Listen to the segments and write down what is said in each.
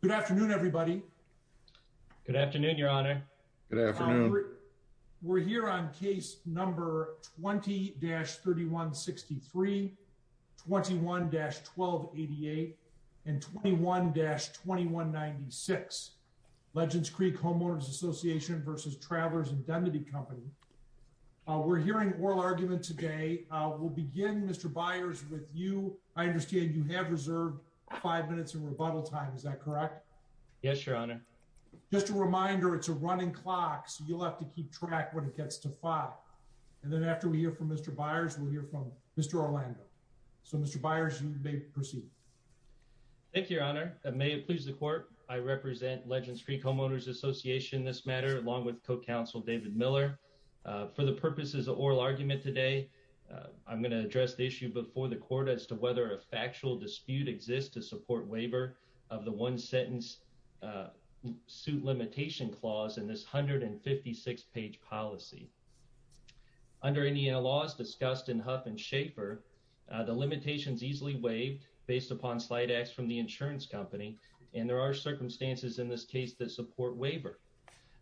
Good afternoon everybody. Good afternoon your honor. Good afternoon. We're here on case number 20-3163, 21-1288 and 21-2196 Legends Creek Homeowners Association versus Travelers Indemnity Company. We're hearing oral argument today. We'll understand you have reserved five minutes of rebuttal time, is that correct? Yes your honor. Just a reminder it's a running clock so you'll have to keep track when it gets to five and then after we hear from Mr. Byers we'll hear from Mr. Orlando. So Mr. Byers you may proceed. Thank you your honor. May it please the court I represent Legends Creek Homeowners Association in this matter along with co-counsel David Miller. For the purposes of oral argument today I'm going to address the issue before the court as to whether a factual dispute exists to support waiver of the one sentence suit limitation clause in this 156 page policy. Under Indiana law as discussed in Huff and Schaefer the limitations easily waived based upon slight acts from the insurance company and there are circumstances in this case that support waiver.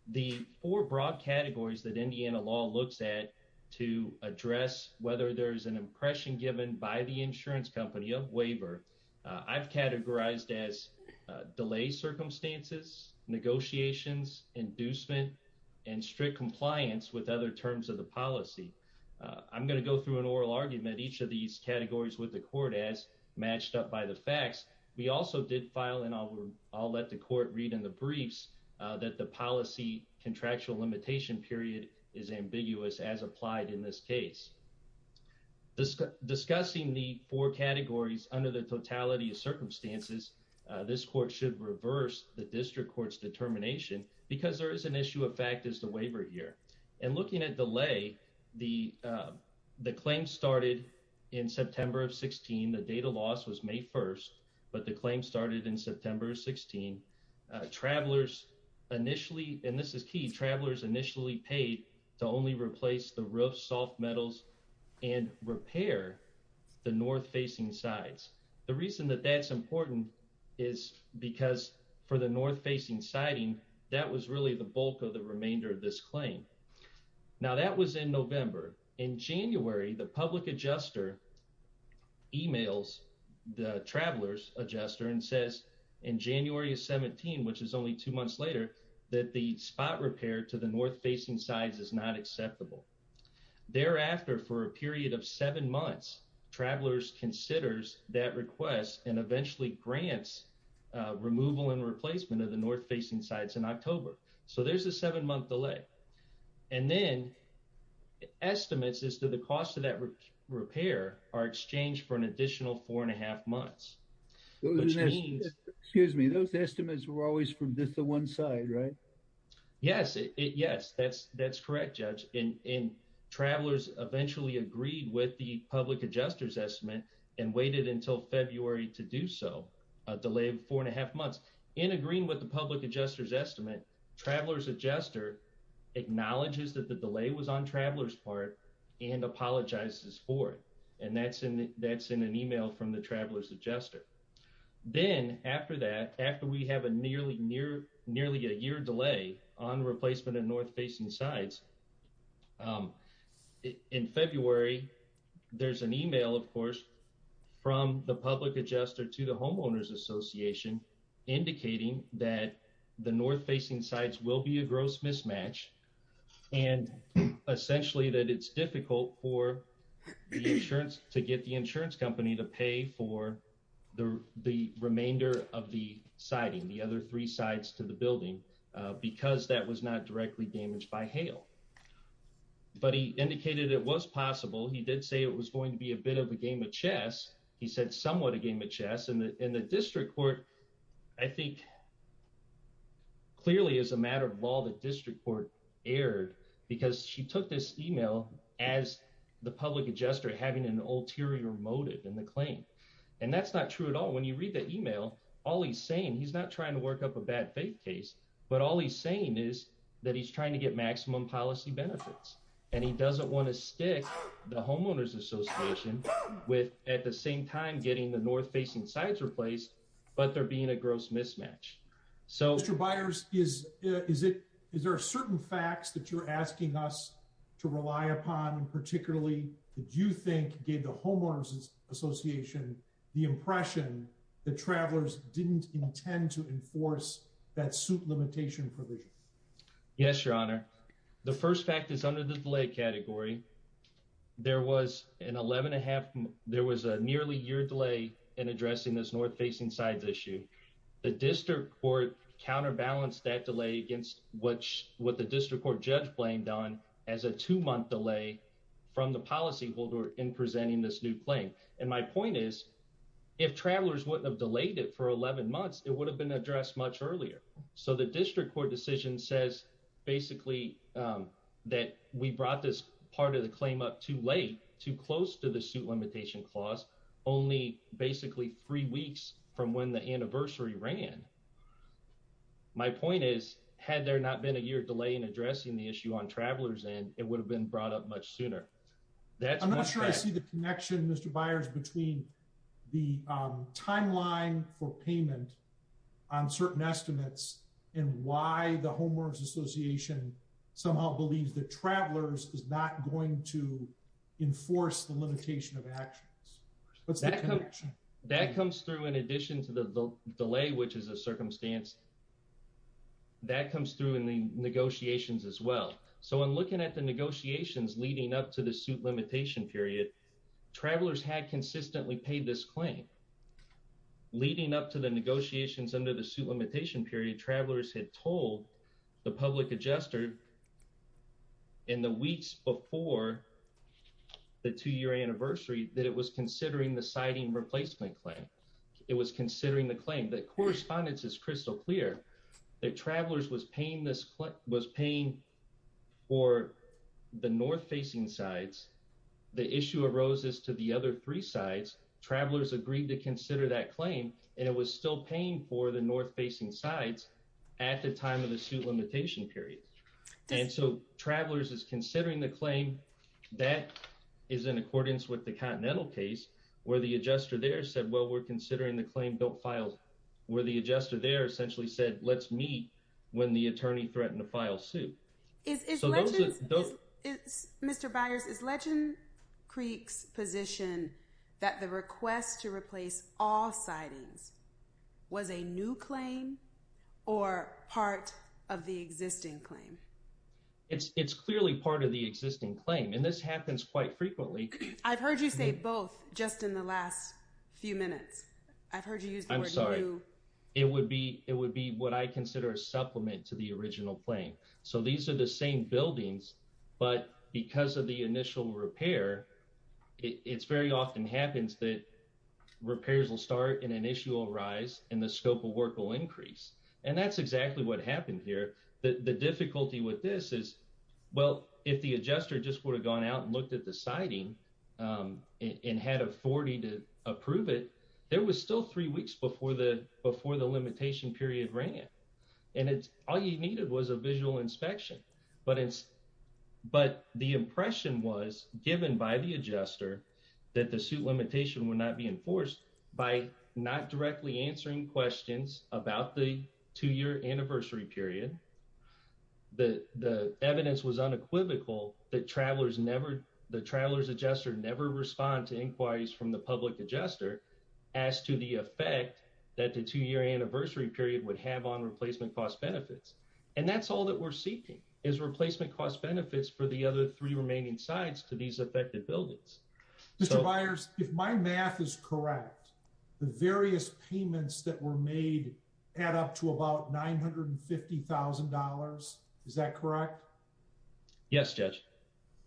The four broad categories that by the insurance company of waiver I've categorized as delay circumstances, negotiations, inducement, and strict compliance with other terms of the policy. I'm going to go through an oral argument each of these categories with the court as matched up by the facts. We also did file and I'll let the court read in the briefs that the policy contractual limitation period is the four categories under the totality of circumstances this court should reverse the district courts determination because there is an issue of fact is the waiver here and looking at delay the the claim started in September of 16 the data loss was May 1st but the claim started in September 16. Travelers initially and this is key travelers initially paid to only replace the roof soft metals and repair the north-facing sides. The reason that that's important is because for the north-facing siding that was really the bulk of the remainder of this claim. Now that was in November in January the public adjuster emails the travelers adjuster and says in January of 17 which is only two months later that the spot repair to the north-facing sides is not acceptable. Thereafter for a period of seven months travelers considers that request and eventually grants removal and replacement of the north-facing sides in October. So there's a seven month delay and then estimates as to the cost of that repair are exchanged for an additional four and a half months. Excuse me those estimates were always from just the one side right? Yes it yes that's that's correct judge in in travelers eventually agreed with the public adjusters estimate and waited until February to do so a delay of four and a half months in agreeing with the public adjusters estimate travelers adjuster acknowledges that the delay was on travelers part and apologizes for it and that's in that's in an email from the travelers adjuster. Then after that after we have a nearly near nearly a year delay on replacement and facing sides in February there's an email of course from the public adjuster to the homeowners association indicating that the north-facing sites will be a gross mismatch and essentially that it's difficult for insurance to get the insurance company to pay for the remainder of the siding the other three damaged by hail. But he indicated it was possible he did say it was going to be a bit of a game of chess he said somewhat a game of chess in the in the district court I think clearly as a matter of law the district court erred because she took this email as the public adjuster having an ulterior motive in the claim and that's not true at all when you read that email all he's saying he's not trying to work up a bad faith case but all he's saying is that he's trying to get maximum policy benefits and he doesn't want to stick the homeowners association with at the same time getting the north-facing sides replaced but there being a gross mismatch. So Mr. Byers is is it is there a certain facts that you're asking us to rely upon and particularly did you think gave the homeowners association the impression that travelers didn't intend to enforce that suit limitation provision? Yes your honor the first fact is under the delay category there was an 11 and a half there was a nearly year delay in addressing this north-facing sides issue the district court counterbalanced that delay against which what the district court judge blamed on as a two-month delay from the policy holder in presenting this new claim and my point is if travelers wouldn't have delayed it for 11 months it would have been a address much earlier so the district court decision says basically that we brought this part of the claim up too late too close to the suit limitation clause only basically three weeks from when the anniversary ran. My point is had there not been a year delay in addressing the issue on travelers and it would have been brought up much sooner. I'm not sure I see the connection Mr. between the timeline for payment on certain estimates and why the homeowners association somehow believes that travelers is not going to enforce the limitation of actions. That comes through in addition to the delay which is a circumstance that comes through in the negotiations as well so in looking at the negotiations leading up to the suit limitation period travelers had consistently paid this claim leading up to the negotiations under the suit limitation period travelers had told the public adjuster in the weeks before the two-year anniversary that it was considering the siding replacement claim. It was considering the claim that correspondence is crystal clear that travelers was paying this was paying for the roses to the other three sides travelers agreed to consider that claim and it was still paying for the north-facing sides at the time of the suit limitation period and so travelers is considering the claim that is in accordance with the Continental case where the adjuster there said well we're considering the claim built files where the adjuster there essentially said let's Mr. Byers is Legend Creek's position that the request to replace all sidings was a new claim or part of the existing claim? It's it's clearly part of the existing claim and this happens quite frequently. I've heard you say both just in the last few minutes. I've heard you use the word new. I'm sorry it would be it would be what I consider a supplement to the original claim so these are the same buildings but because of the initial repair it's very often happens that repairs will start and an issue will arise and the scope of work will increase and that's exactly what happened here. The difficulty with this is well if the adjuster just would have gone out and looked at the siding and had a 40 to approve it there was still three weeks before the before the but the impression was given by the adjuster that the suit limitation would not be enforced by not directly answering questions about the two-year anniversary period. The evidence was unequivocal that travelers never the travelers adjuster never respond to inquiries from the public adjuster as to the effect that the two-year anniversary period would have on replacement cost benefits. And that's all that we're seeking is replacement cost benefits for the other three remaining sides to these affected buildings. Mister Byers if my math is correct the various payments that were made add up to about $950,000 is that correct? Yes judge.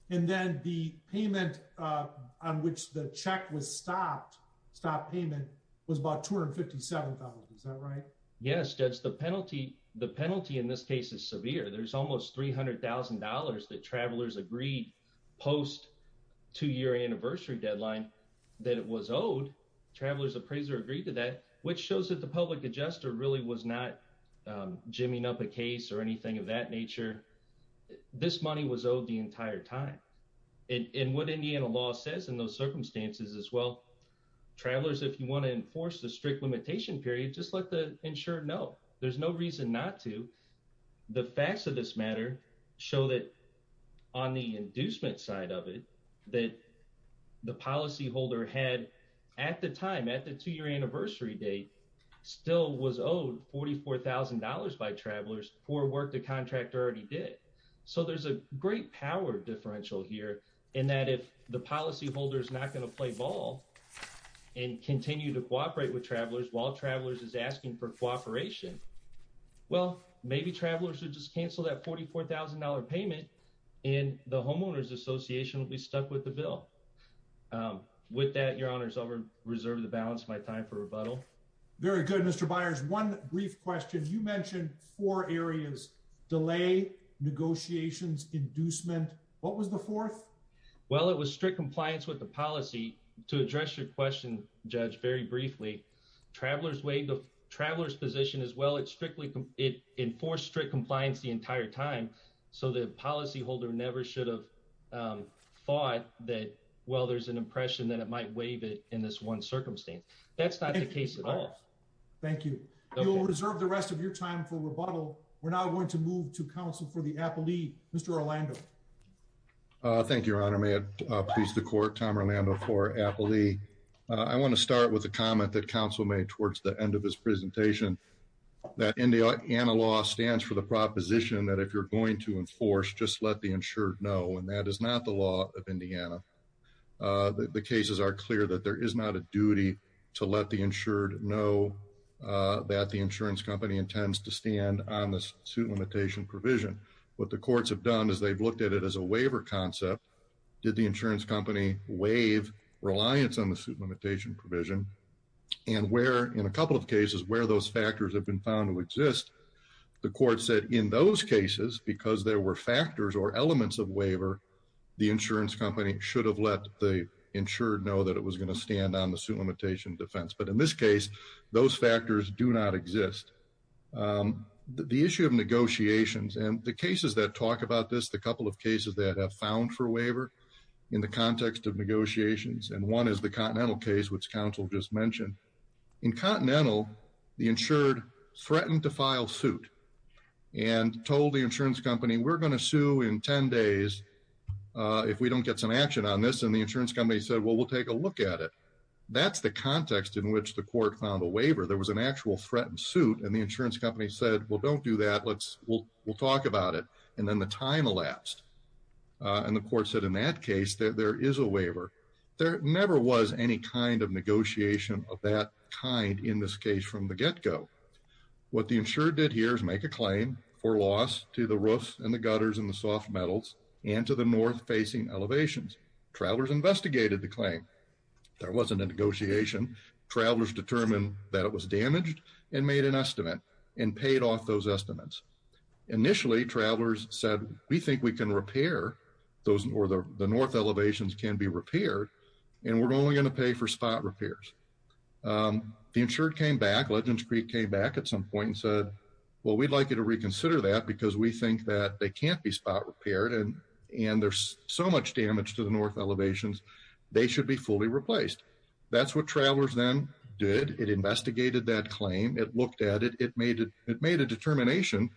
And then the payment on which the check was stopped stop payment was about $257,000 is that right? Yes judge the penalty the penalty in this case is severe there's almost $300,000 that travelers agreed post two-year anniversary deadline that it was owed travelers appraiser agreed to that which shows that the public adjuster really was not jimmying up a case or anything of that nature. This money was owed the entire time. In what Indiana law says in those circumstances as well travelers if you want to enforce the strict limitation period just let the insured know there's no reason not to. The facts of this matter show that on the inducement side of it that the policyholder had at the time at the two-year anniversary date still was owed $44,000 by travelers for work the contractor already did. So there's a great power differential here in that if the policyholder is not going to play ball and continue to cooperate with travelers while travelers is asking for cooperation well maybe travelers would just cancel that $44,000 payment and the homeowners association will be stuck with the bill. With that your honors I'll reserve the balance of my time for rebuttal. Very good Mr. Byers one brief question you mentioned four areas delay negotiations inducement what was the fourth? Well it was strict compliance with the policy to address your question judge very briefly travelers way the travelers position as well it strictly it enforced strict compliance the entire time so the policyholder never should have thought that well there's an impression that it might waive it in this one circumstance. That's not the case at all. Thank you. You'll reserve the rest of your time for rebuttal we're now going to move to counsel for the appellee Mr. Orlando. Thank you your honor may it please the court Tom Orlando for appellee. I want to start with a comment that counsel made towards the end of this presentation that in the Indiana law stands for the proposition that if you're going to enforce just let the insured know and that is not the law of Indiana. The cases are clear that there is not a duty to let the insured know that the insurance company intends to stand on this suit limitation provision what the courts have done is they've looked at it as a waiver concept did the insurance company waive reliance on the suit limitation provision and where in a couple of cases where those factors have been found to exist the court said in those cases because there were factors or elements of waiver the insurance company should have let the insured know that it was going to stand on the suit limitation defense but in this case those factors do not exist. The issue of negotiations and the cases that talk about this the couple of cases that have found for waiver in the context of negotiations and one is the Continental case which counsel just mentioned in Continental the insured threatened to file suit and told the insurance company we're going to sue in 10 days if we don't get some action on this and the insurance company said well we'll take a look at it that's the context in which the court found a waiver there was an actual threatened suit and the insurance company said well don't do that let's we'll we'll talk about it and then the time elapsed and the court said in that case that there is a waiver there never was any kind of negotiation of that kind in this case from the get-go what the insured did here is make a claim for loss to the roofs and the gutters and the soft metals and to the north facing elevations travelers investigated the claim there wasn't a negotiation travelers determined that it was damaged and made an estimate and paid off those estimates initially travelers said we think we can repair those nor the north elevations can be repaired and we're only going to pay for spot repairs the insured came back legends Creek came back at some point and said well we'd like you to reconsider that because we think that they can't be spot repaired and and there's so much damage to the north elevations they should be fully replaced that's what travelers then did it investigated that claim it looked at it it made it it made a determination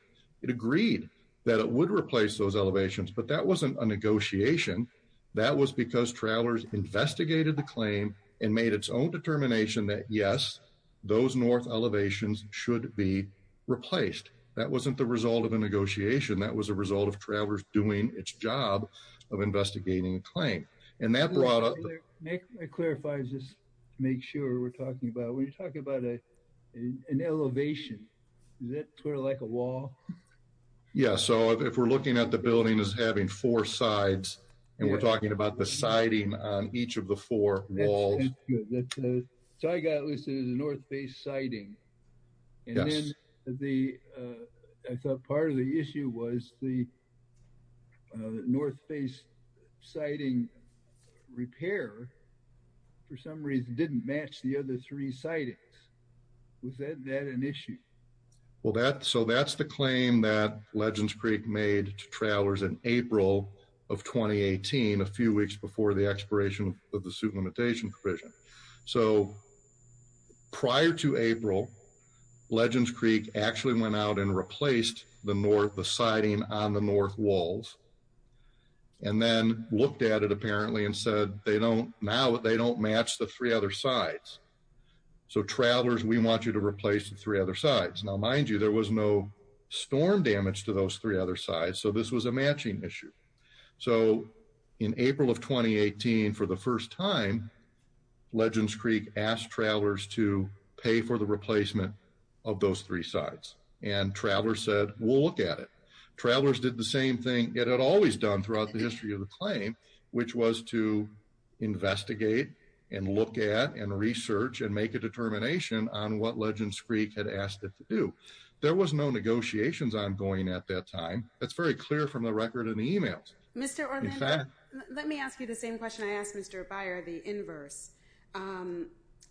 it agreed that it would replace those elevations but that wasn't a negotiation that was because travelers investigated the claim and made its own determination that yes those north elevations should be replaced that wasn't the result of a negotiation that was a result of travelers doing its job of investigating a claim and that brought up it clarifies this make sure we're talking about when you're talking about it an elevation that we're like a wall yeah so if we're looking at the building is having four sides and we're talking about the siding on each of the four walls so I got listed as a north face siding and then the part of the issue was the north face siding repair for some reason didn't match the other three sightings was that an issue well that so that's the claim that legends Creek made travelers in April of 2018 a few weeks before the expiration of the suit limitation provision so prior to April legends Creek actually went out and replaced the north the siding on the north walls and then looked at it apparently and said they don't now they don't match the three other sides so travelers we want you to replace the three other sides now mind you there was no storm damage to those three other sides so this was a matching issue so in April of 2018 for the first time legends Creek asked travelers to pay for the travelers said we'll look at it travelers did the same thing it had always done throughout the history of the claim which was to investigate and look at and research and make a determination on what legends Creek had asked it to do there was no negotiations ongoing at that time that's very clear from the record in the emails mr. let me ask you the same question I asked mr. Byer the inverse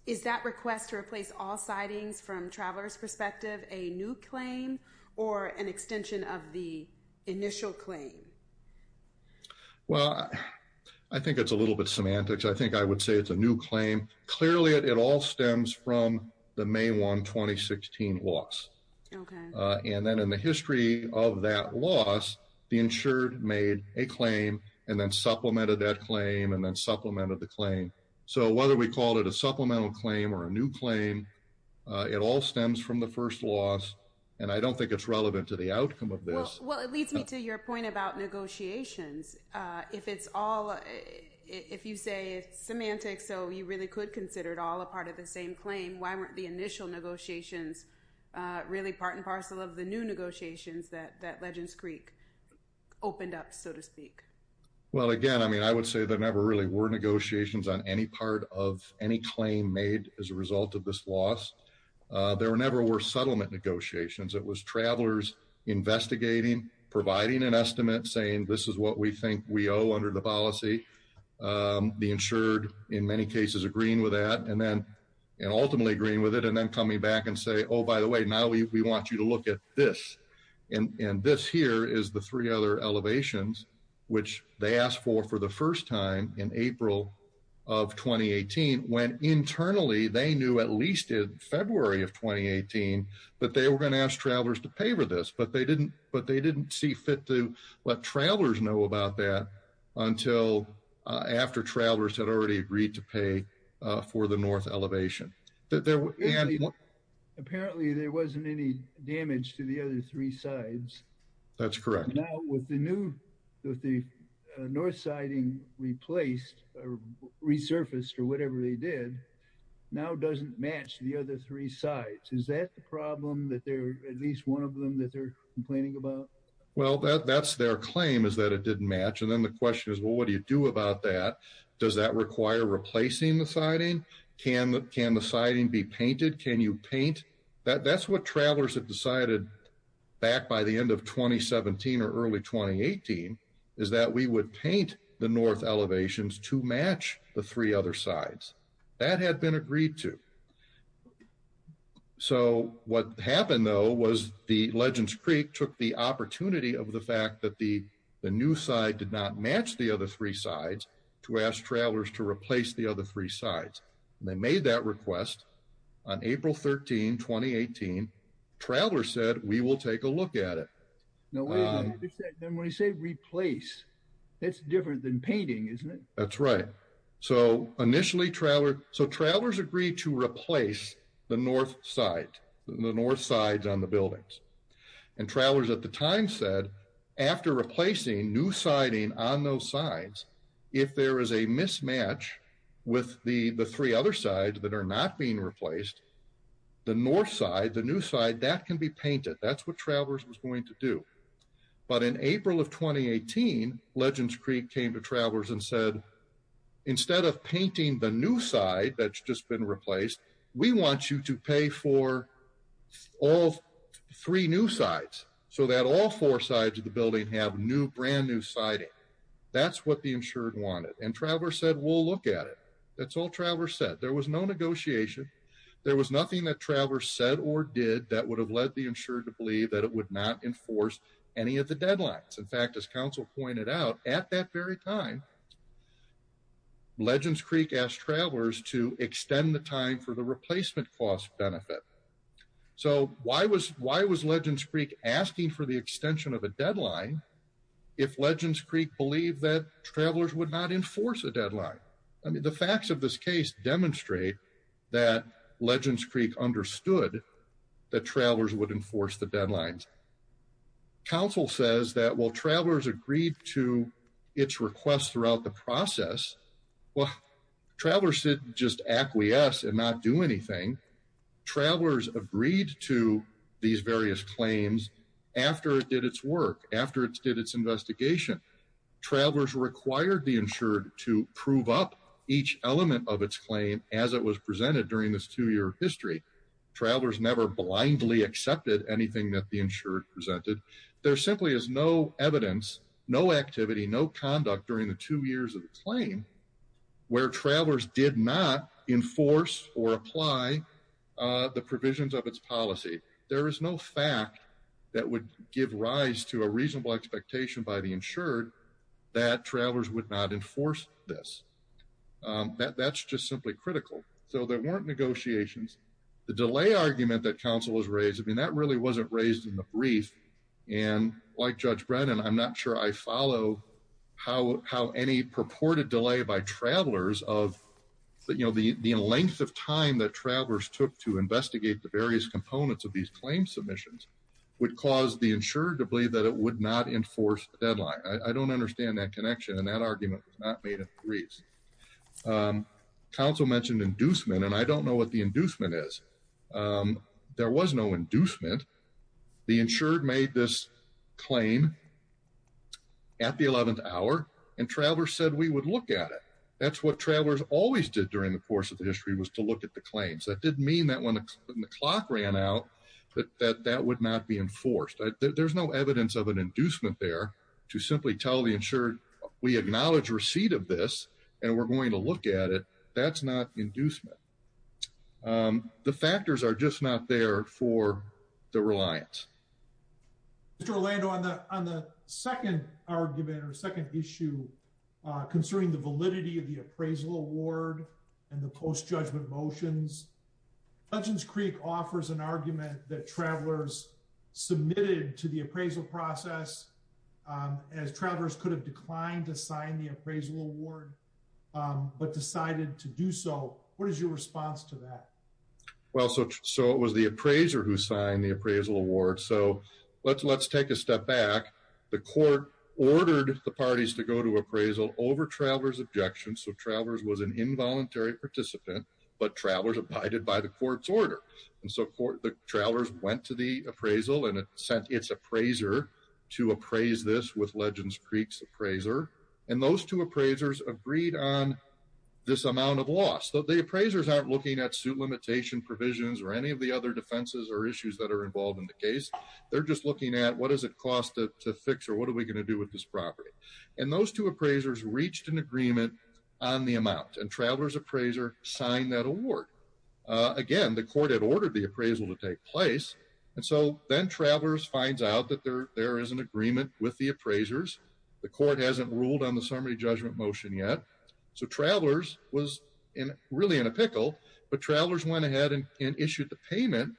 is that request to replace all sightings from travelers perspective a new claim or an extension of the initial claim well I think it's a little bit semantics I think I would say it's a new claim clearly it all stems from the May 1 2016 loss and then in the history of that loss the insured made a claim and then supplemented that claim and then supplemented the claim so whether we called it a supplemental claim or a new claim it all stems from the first loss and I don't think it's relevant to the outcome of this well it leads me to your point about negotiations if it's all if you say semantics so you really could consider it all a part of the same claim why weren't the initial negotiations really part and parcel of the new negotiations that that legends Creek opened up so to speak well again I mean I would say there never really were negotiations on any part of any claim made as a result of this loss there were never were settlement negotiations it was travelers investigating providing an estimate saying this is what we think we owe under the policy the insured in many cases agreeing with that and then and ultimately agreeing with it and then coming back and say oh by the way now we want you to look at this and this here is the three other elevations which they for for the first time in April of 2018 when internally they knew at least in February of 2018 but they were going to ask travelers to pay for this but they didn't but they didn't see fit to let travelers know about that until after travelers had already agreed to pay for the north elevation that there were apparently there wasn't any damage to the other three sides that's correct with the new with the north siding replaced resurfaced or whatever they did now doesn't match the other three sides is that the problem that they're at least one of them that they're complaining about well that that's their claim is that it didn't match and then the question is well what do you do about that does that require replacing the siding can that can the siding be painted can you paint that that's what travelers have decided back by the end of 2017 or early 2018 is that we would paint the north elevations to match the three other sides that had been agreed to so what happened though was the legends Creek took the opportunity of the fact that the the new side did not match the other three sides to ask travelers to replace the other three sides they made that request on April 13 2018 travelers said we will take a look at it replace that's different than painting isn't it that's right so initially traveler so travelers agreed to replace the north side the north sides on the buildings and travelers at the time said after replacing new siding on those sides if there is a mismatch with the the three other sides that are not being replaced the north side the new side that can be painted that's what travelers was going to do but in April of 2018 legends Creek came to travelers and said instead of painting the new side that's just been replaced we want you to pay for all three new sides so that all four sides of the building have new brand new siding that's what the insured wanted and Travers said we'll look at it that's all Travers said there was no negotiation there was nothing that Travers said or did that would have led the insured to believe that it would not enforce any of the deadlines in fact as council pointed out at that very time legends Creek asked travelers to extend the time for the replacement cost benefit so why was why was legends Creek asking for the extension of a deadline if legends Creek believed that travelers would not enforce a deadline I mean the facts of this case demonstrate that legends Creek understood that travelers would enforce the deadlines council says that while travelers agreed to its requests throughout the process well travelers should just acquiesce and not do anything travelers agreed to these various claims after it did its work after it's did its investigation travelers required the insured to prove up each element of its claim as it was presented during this two-year history travelers never blindly accepted anything that the insured presented there simply is no evidence no activity no conduct during the two years of the claim where travelers did not enforce or apply the provisions of its policy there is no fact that would give rise to a reasonable expectation by the insured that travelers would not enforce this that's just simply critical so there weren't negotiations the delay argument that council was raised I mean that really wasn't raised in the brief and like judge Brennan I'm not sure I follow how how any purported delay by travelers of but you know the the length of time that travelers took to investigate the various components of these claim submissions would cause the insured to believe that it would not enforce deadline I don't understand that connection and that argument was not made in Greece council mentioned inducement and I don't know what the inducement is there was no inducement the insured made this claim at the 11th hour and travelers said we would look at it that's what travelers always did during the course of the history was to look at the claims that didn't mean that when the clock ran out that that would not be enforced there's no evidence of an inducement there to simply tell the insured we acknowledge receipt of this and we're going to look at it that's not inducement the factors are just not there for the reliance. Mr. Orlando on the on the second argument or second issue concerning the validity of the appraisal award and the post judgment motions Dungeons Creek offers an argument that travelers submitted to the appraisal process as travelers could have declined to sign the appraisal award but decided to do so what is your response to that? Well so it was the appraiser who signed the appraisal award so let's let's take a step back the court ordered the parties to go to appraisal over travelers objections so travelers was an involuntary participant but travelers abided by the court's order and so court the travelers went to the appraisal and it sent its appraiser to appraise this with Legends Creek's appraiser and those two appraisers agreed on this amount of loss so the appraisers aren't looking at suit limitation provisions or any of the other defenses or issues that are involved in the case they're just looking at what does it cost to fix or what are we going to do with this property and those two appraisers reached an agreement on the amount and travelers appraiser signed that award again the court had ordered the appraisal to take place and so then travelers finds out that there there is an agreement with the appraisers the court hasn't ruled on the summary judgment motion yet so travelers was in really in a pickle but travelers went ahead and issued the payment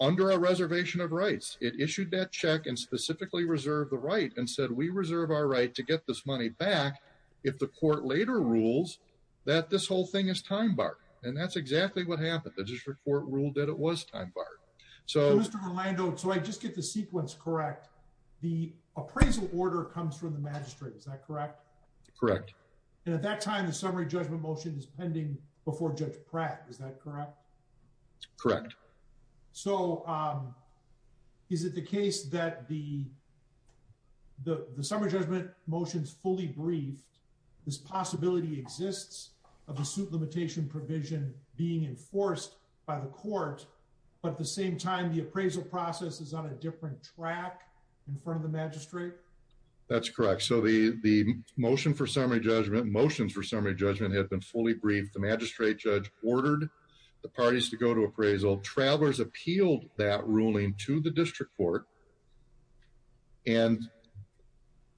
under a reservation of rights it issued that check and specifically reserved the right and said we reserve our right to get this money back if the court later rules that this whole thing is time barred and that's exactly what happened the district court ruled that it was time barred so mr. Orlando so I just get the sequence correct the appraisal order comes from the magistrate is that correct correct and at that time the summary judgment motion is pending before judge Pratt is that correct correct so is it the case that the the possibility exists of the suit limitation provision being enforced by the court but at the same time the appraisal process is on a different track in front of the magistrate that's correct so the the motion for summary judgment motions for summary judgment had been fully briefed the magistrate judge ordered the parties to go to appraisal travelers appealed that ruling to the district court and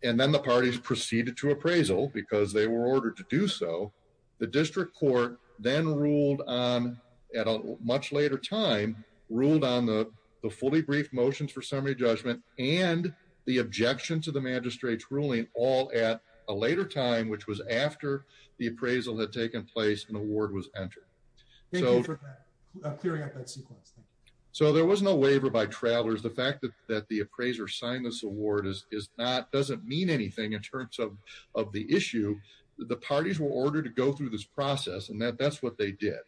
and then the parties proceeded to appraisal because they were ordered to do so the district court then ruled on at a much later time ruled on the the fully brief motions for summary judgment and the objection to the magistrate's ruling all at a later time which was after the appraisal had taken place an award was entered so clearing up that sequence so there was no waiver by travelers the fact that that the appraiser signed this award is not doesn't mean anything in terms of of the issue the parties were ordered to go through this process and that that's what they did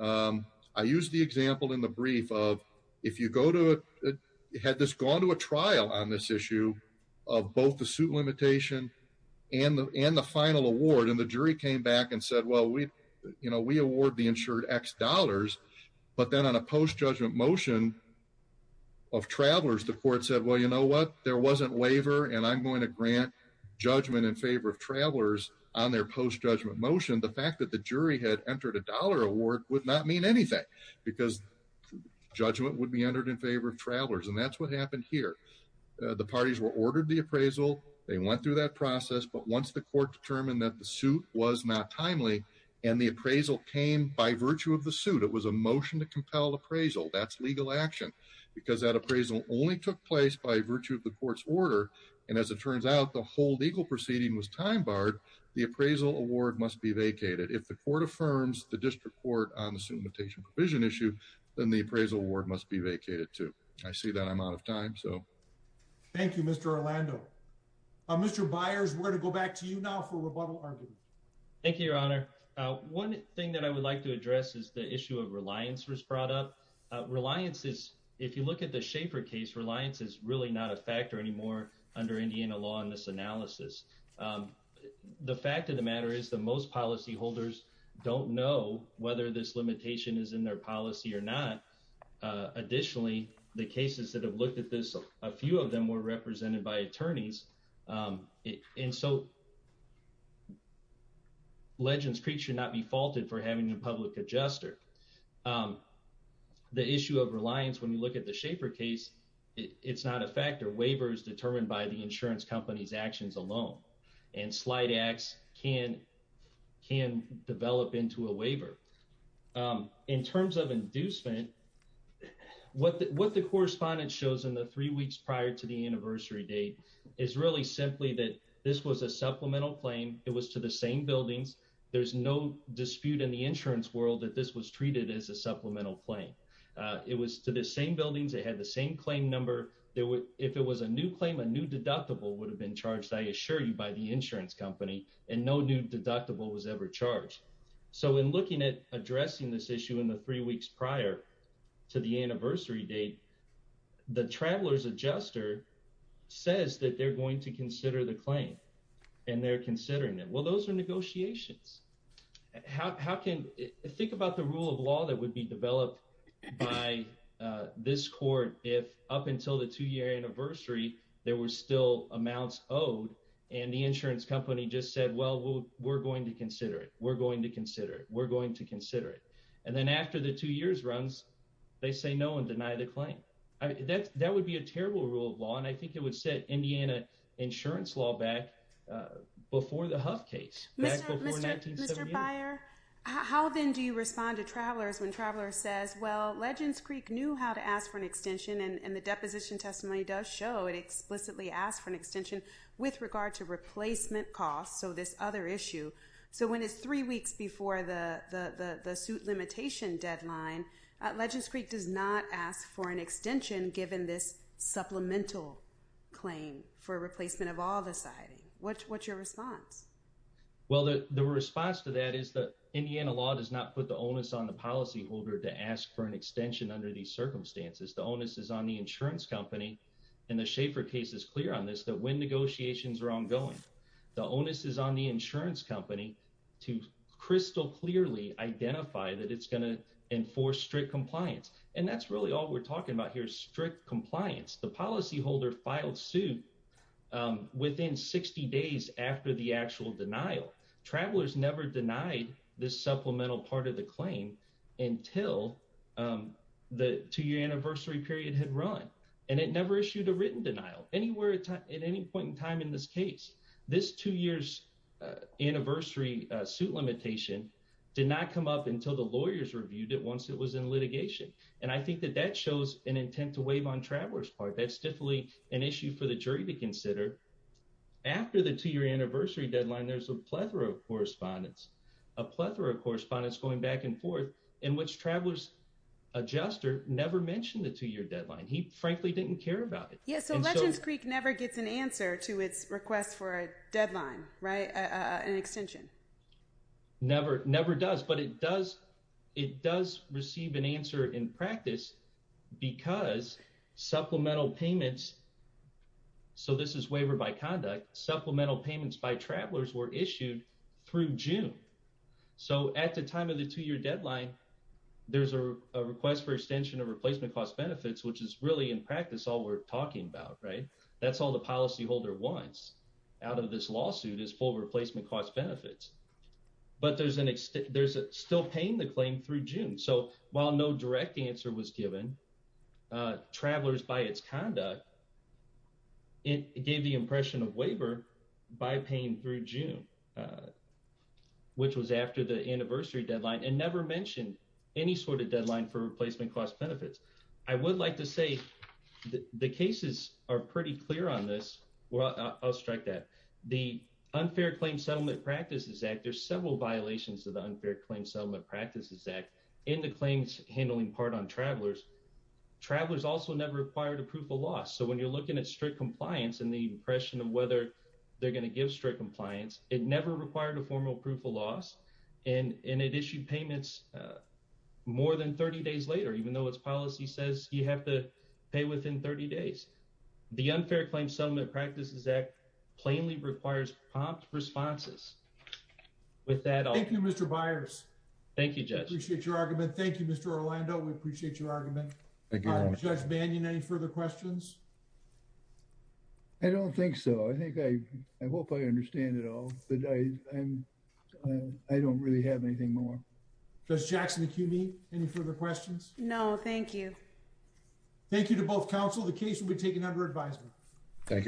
I use the example in the brief of if you go to it had this gone to a trial on this issue of both the suit limitation and the and the final award and the jury came back and said well we you know we award the insured x dollars but then on a post judgment motion of travelers the court said well you know what there wasn't waiver and I'm going to grant judgment in favor of travelers on their post judgment motion the fact that the jury had entered a dollar award would not mean anything because judgment would be entered in favor of travelers and that's what happened here the parties were ordered the appraisal they went through that process but once the court determined that the suit was not timely and the legal action because that appraisal only took place by virtue of the court's order and as it turns out the whole legal proceeding was time barred the appraisal award must be vacated if the court affirms the district court on the suit limitation provision issue then the appraisal award must be vacated to I see that I'm out of time so thank you Mr. Orlando Mr. Byers we're to go back to you now for rebuttal argument thank you your honor one thing that I would like to address is the issue of reliance was brought up reliance is if you look at the Schaefer case reliance is really not a factor anymore under Indiana law in this analysis the fact of the matter is that most policyholders don't know whether this limitation is in their policy or not additionally the cases that have looked at this a few of them were represented by attorneys and so Legends Creek should not be faulted for having a public adjuster the issue of reliance when you look at the Schaefer case it's not a factor waiver is determined by the insurance company's actions alone and slight acts can can develop into a waiver in terms of inducement what the what the correspondence shows in the three weeks prior to the anniversary date is really simply that this was a supplemental claim it was to the same buildings there's no dispute in the insurance world that this was treated as a supplemental claim it was to the same buildings they had the same claim number there were if it was a new claim a new deductible would have been charged I assure you by the insurance company and no new deductible was ever charged so in looking at addressing this issue in the three weeks prior to the anniversary date the travelers adjuster says that they're going to consider the claim and they're considering it well those are negotiations how can think about the rule of law that would be developed by this court if up until the two-year anniversary there were still amounts owed and the insurance company just said well we're going to consider it we're going to consider it we're going to that would be a terrible rule of law and I think it would set Indiana insurance law back before the Huff case. Mr. Byer, how then do you respond to travelers when traveler says well Legends Creek knew how to ask for an extension and the deposition testimony does show it explicitly asked for an extension with regard to replacement costs so this other issue so when it's three weeks before the the the suit limitation deadline Legends Creek does not ask for an extension given this supplemental claim for replacement of all the siding what's what's your response? Well the response to that is that Indiana law does not put the onus on the policyholder to ask for an extension under these circumstances the onus is on the insurance company and the Schaefer case is clear on this that when negotiations are ongoing the onus is on insurance company to crystal clearly identify that it's going to enforce strict compliance and that's really all we're talking about here is strict compliance the policyholder filed suit within 60 days after the actual denial travelers never denied this supplemental part of the claim until the two-year anniversary period had run and it never issued a written denial anywhere at any point in time in this case this two years anniversary suit limitation did not come up until the lawyers reviewed it once it was in litigation and I think that that shows an intent to waive on travelers part that's definitely an issue for the jury to consider after the two-year anniversary deadline there's a plethora of correspondence a plethora of correspondence going back and forth in which travelers adjuster never mentioned the two-year deadline he frankly didn't care about it yeah so legends Creek never gets an answer to its request for a deadline right an extension never never does but it does it does receive an answer in practice because supplemental payments so this is waiver by conduct supplemental payments by travelers were issued through June so at the time of the two-year deadline there's a request for extension of talking about right that's all the policyholder wants out of this lawsuit is full replacement cost benefits but there's an extent there's a still paying the claim through June so while no direct answer was given travelers by its conduct it gave the impression of waiver by paying through June which was after the anniversary deadline and never mentioned any sort of deadline for the cases are pretty clear on this well I'll strike that the Unfair Claim Settlement Practices Act there's several violations of the Unfair Claim Settlement Practices Act in the claims handling part on travelers travelers also never required a proof of loss so when you're looking at strict compliance and the impression of whether they're going to give strict compliance it never required a formal proof of loss and it issued payments more than 30 days later even though it's policy says you have to pay within 30 days the Unfair Claim Settlement Practices Act plainly requires prompt responses with that I thank you mr. Byers thank you just appreciate your argument thank you mr. Orlando we appreciate your argument any further questions I don't think so I think I hope I understand it all the day and I don't really have anything more does Jackson the QB any further questions no thank you thank you to both counsel the case will be taken under advisement thank you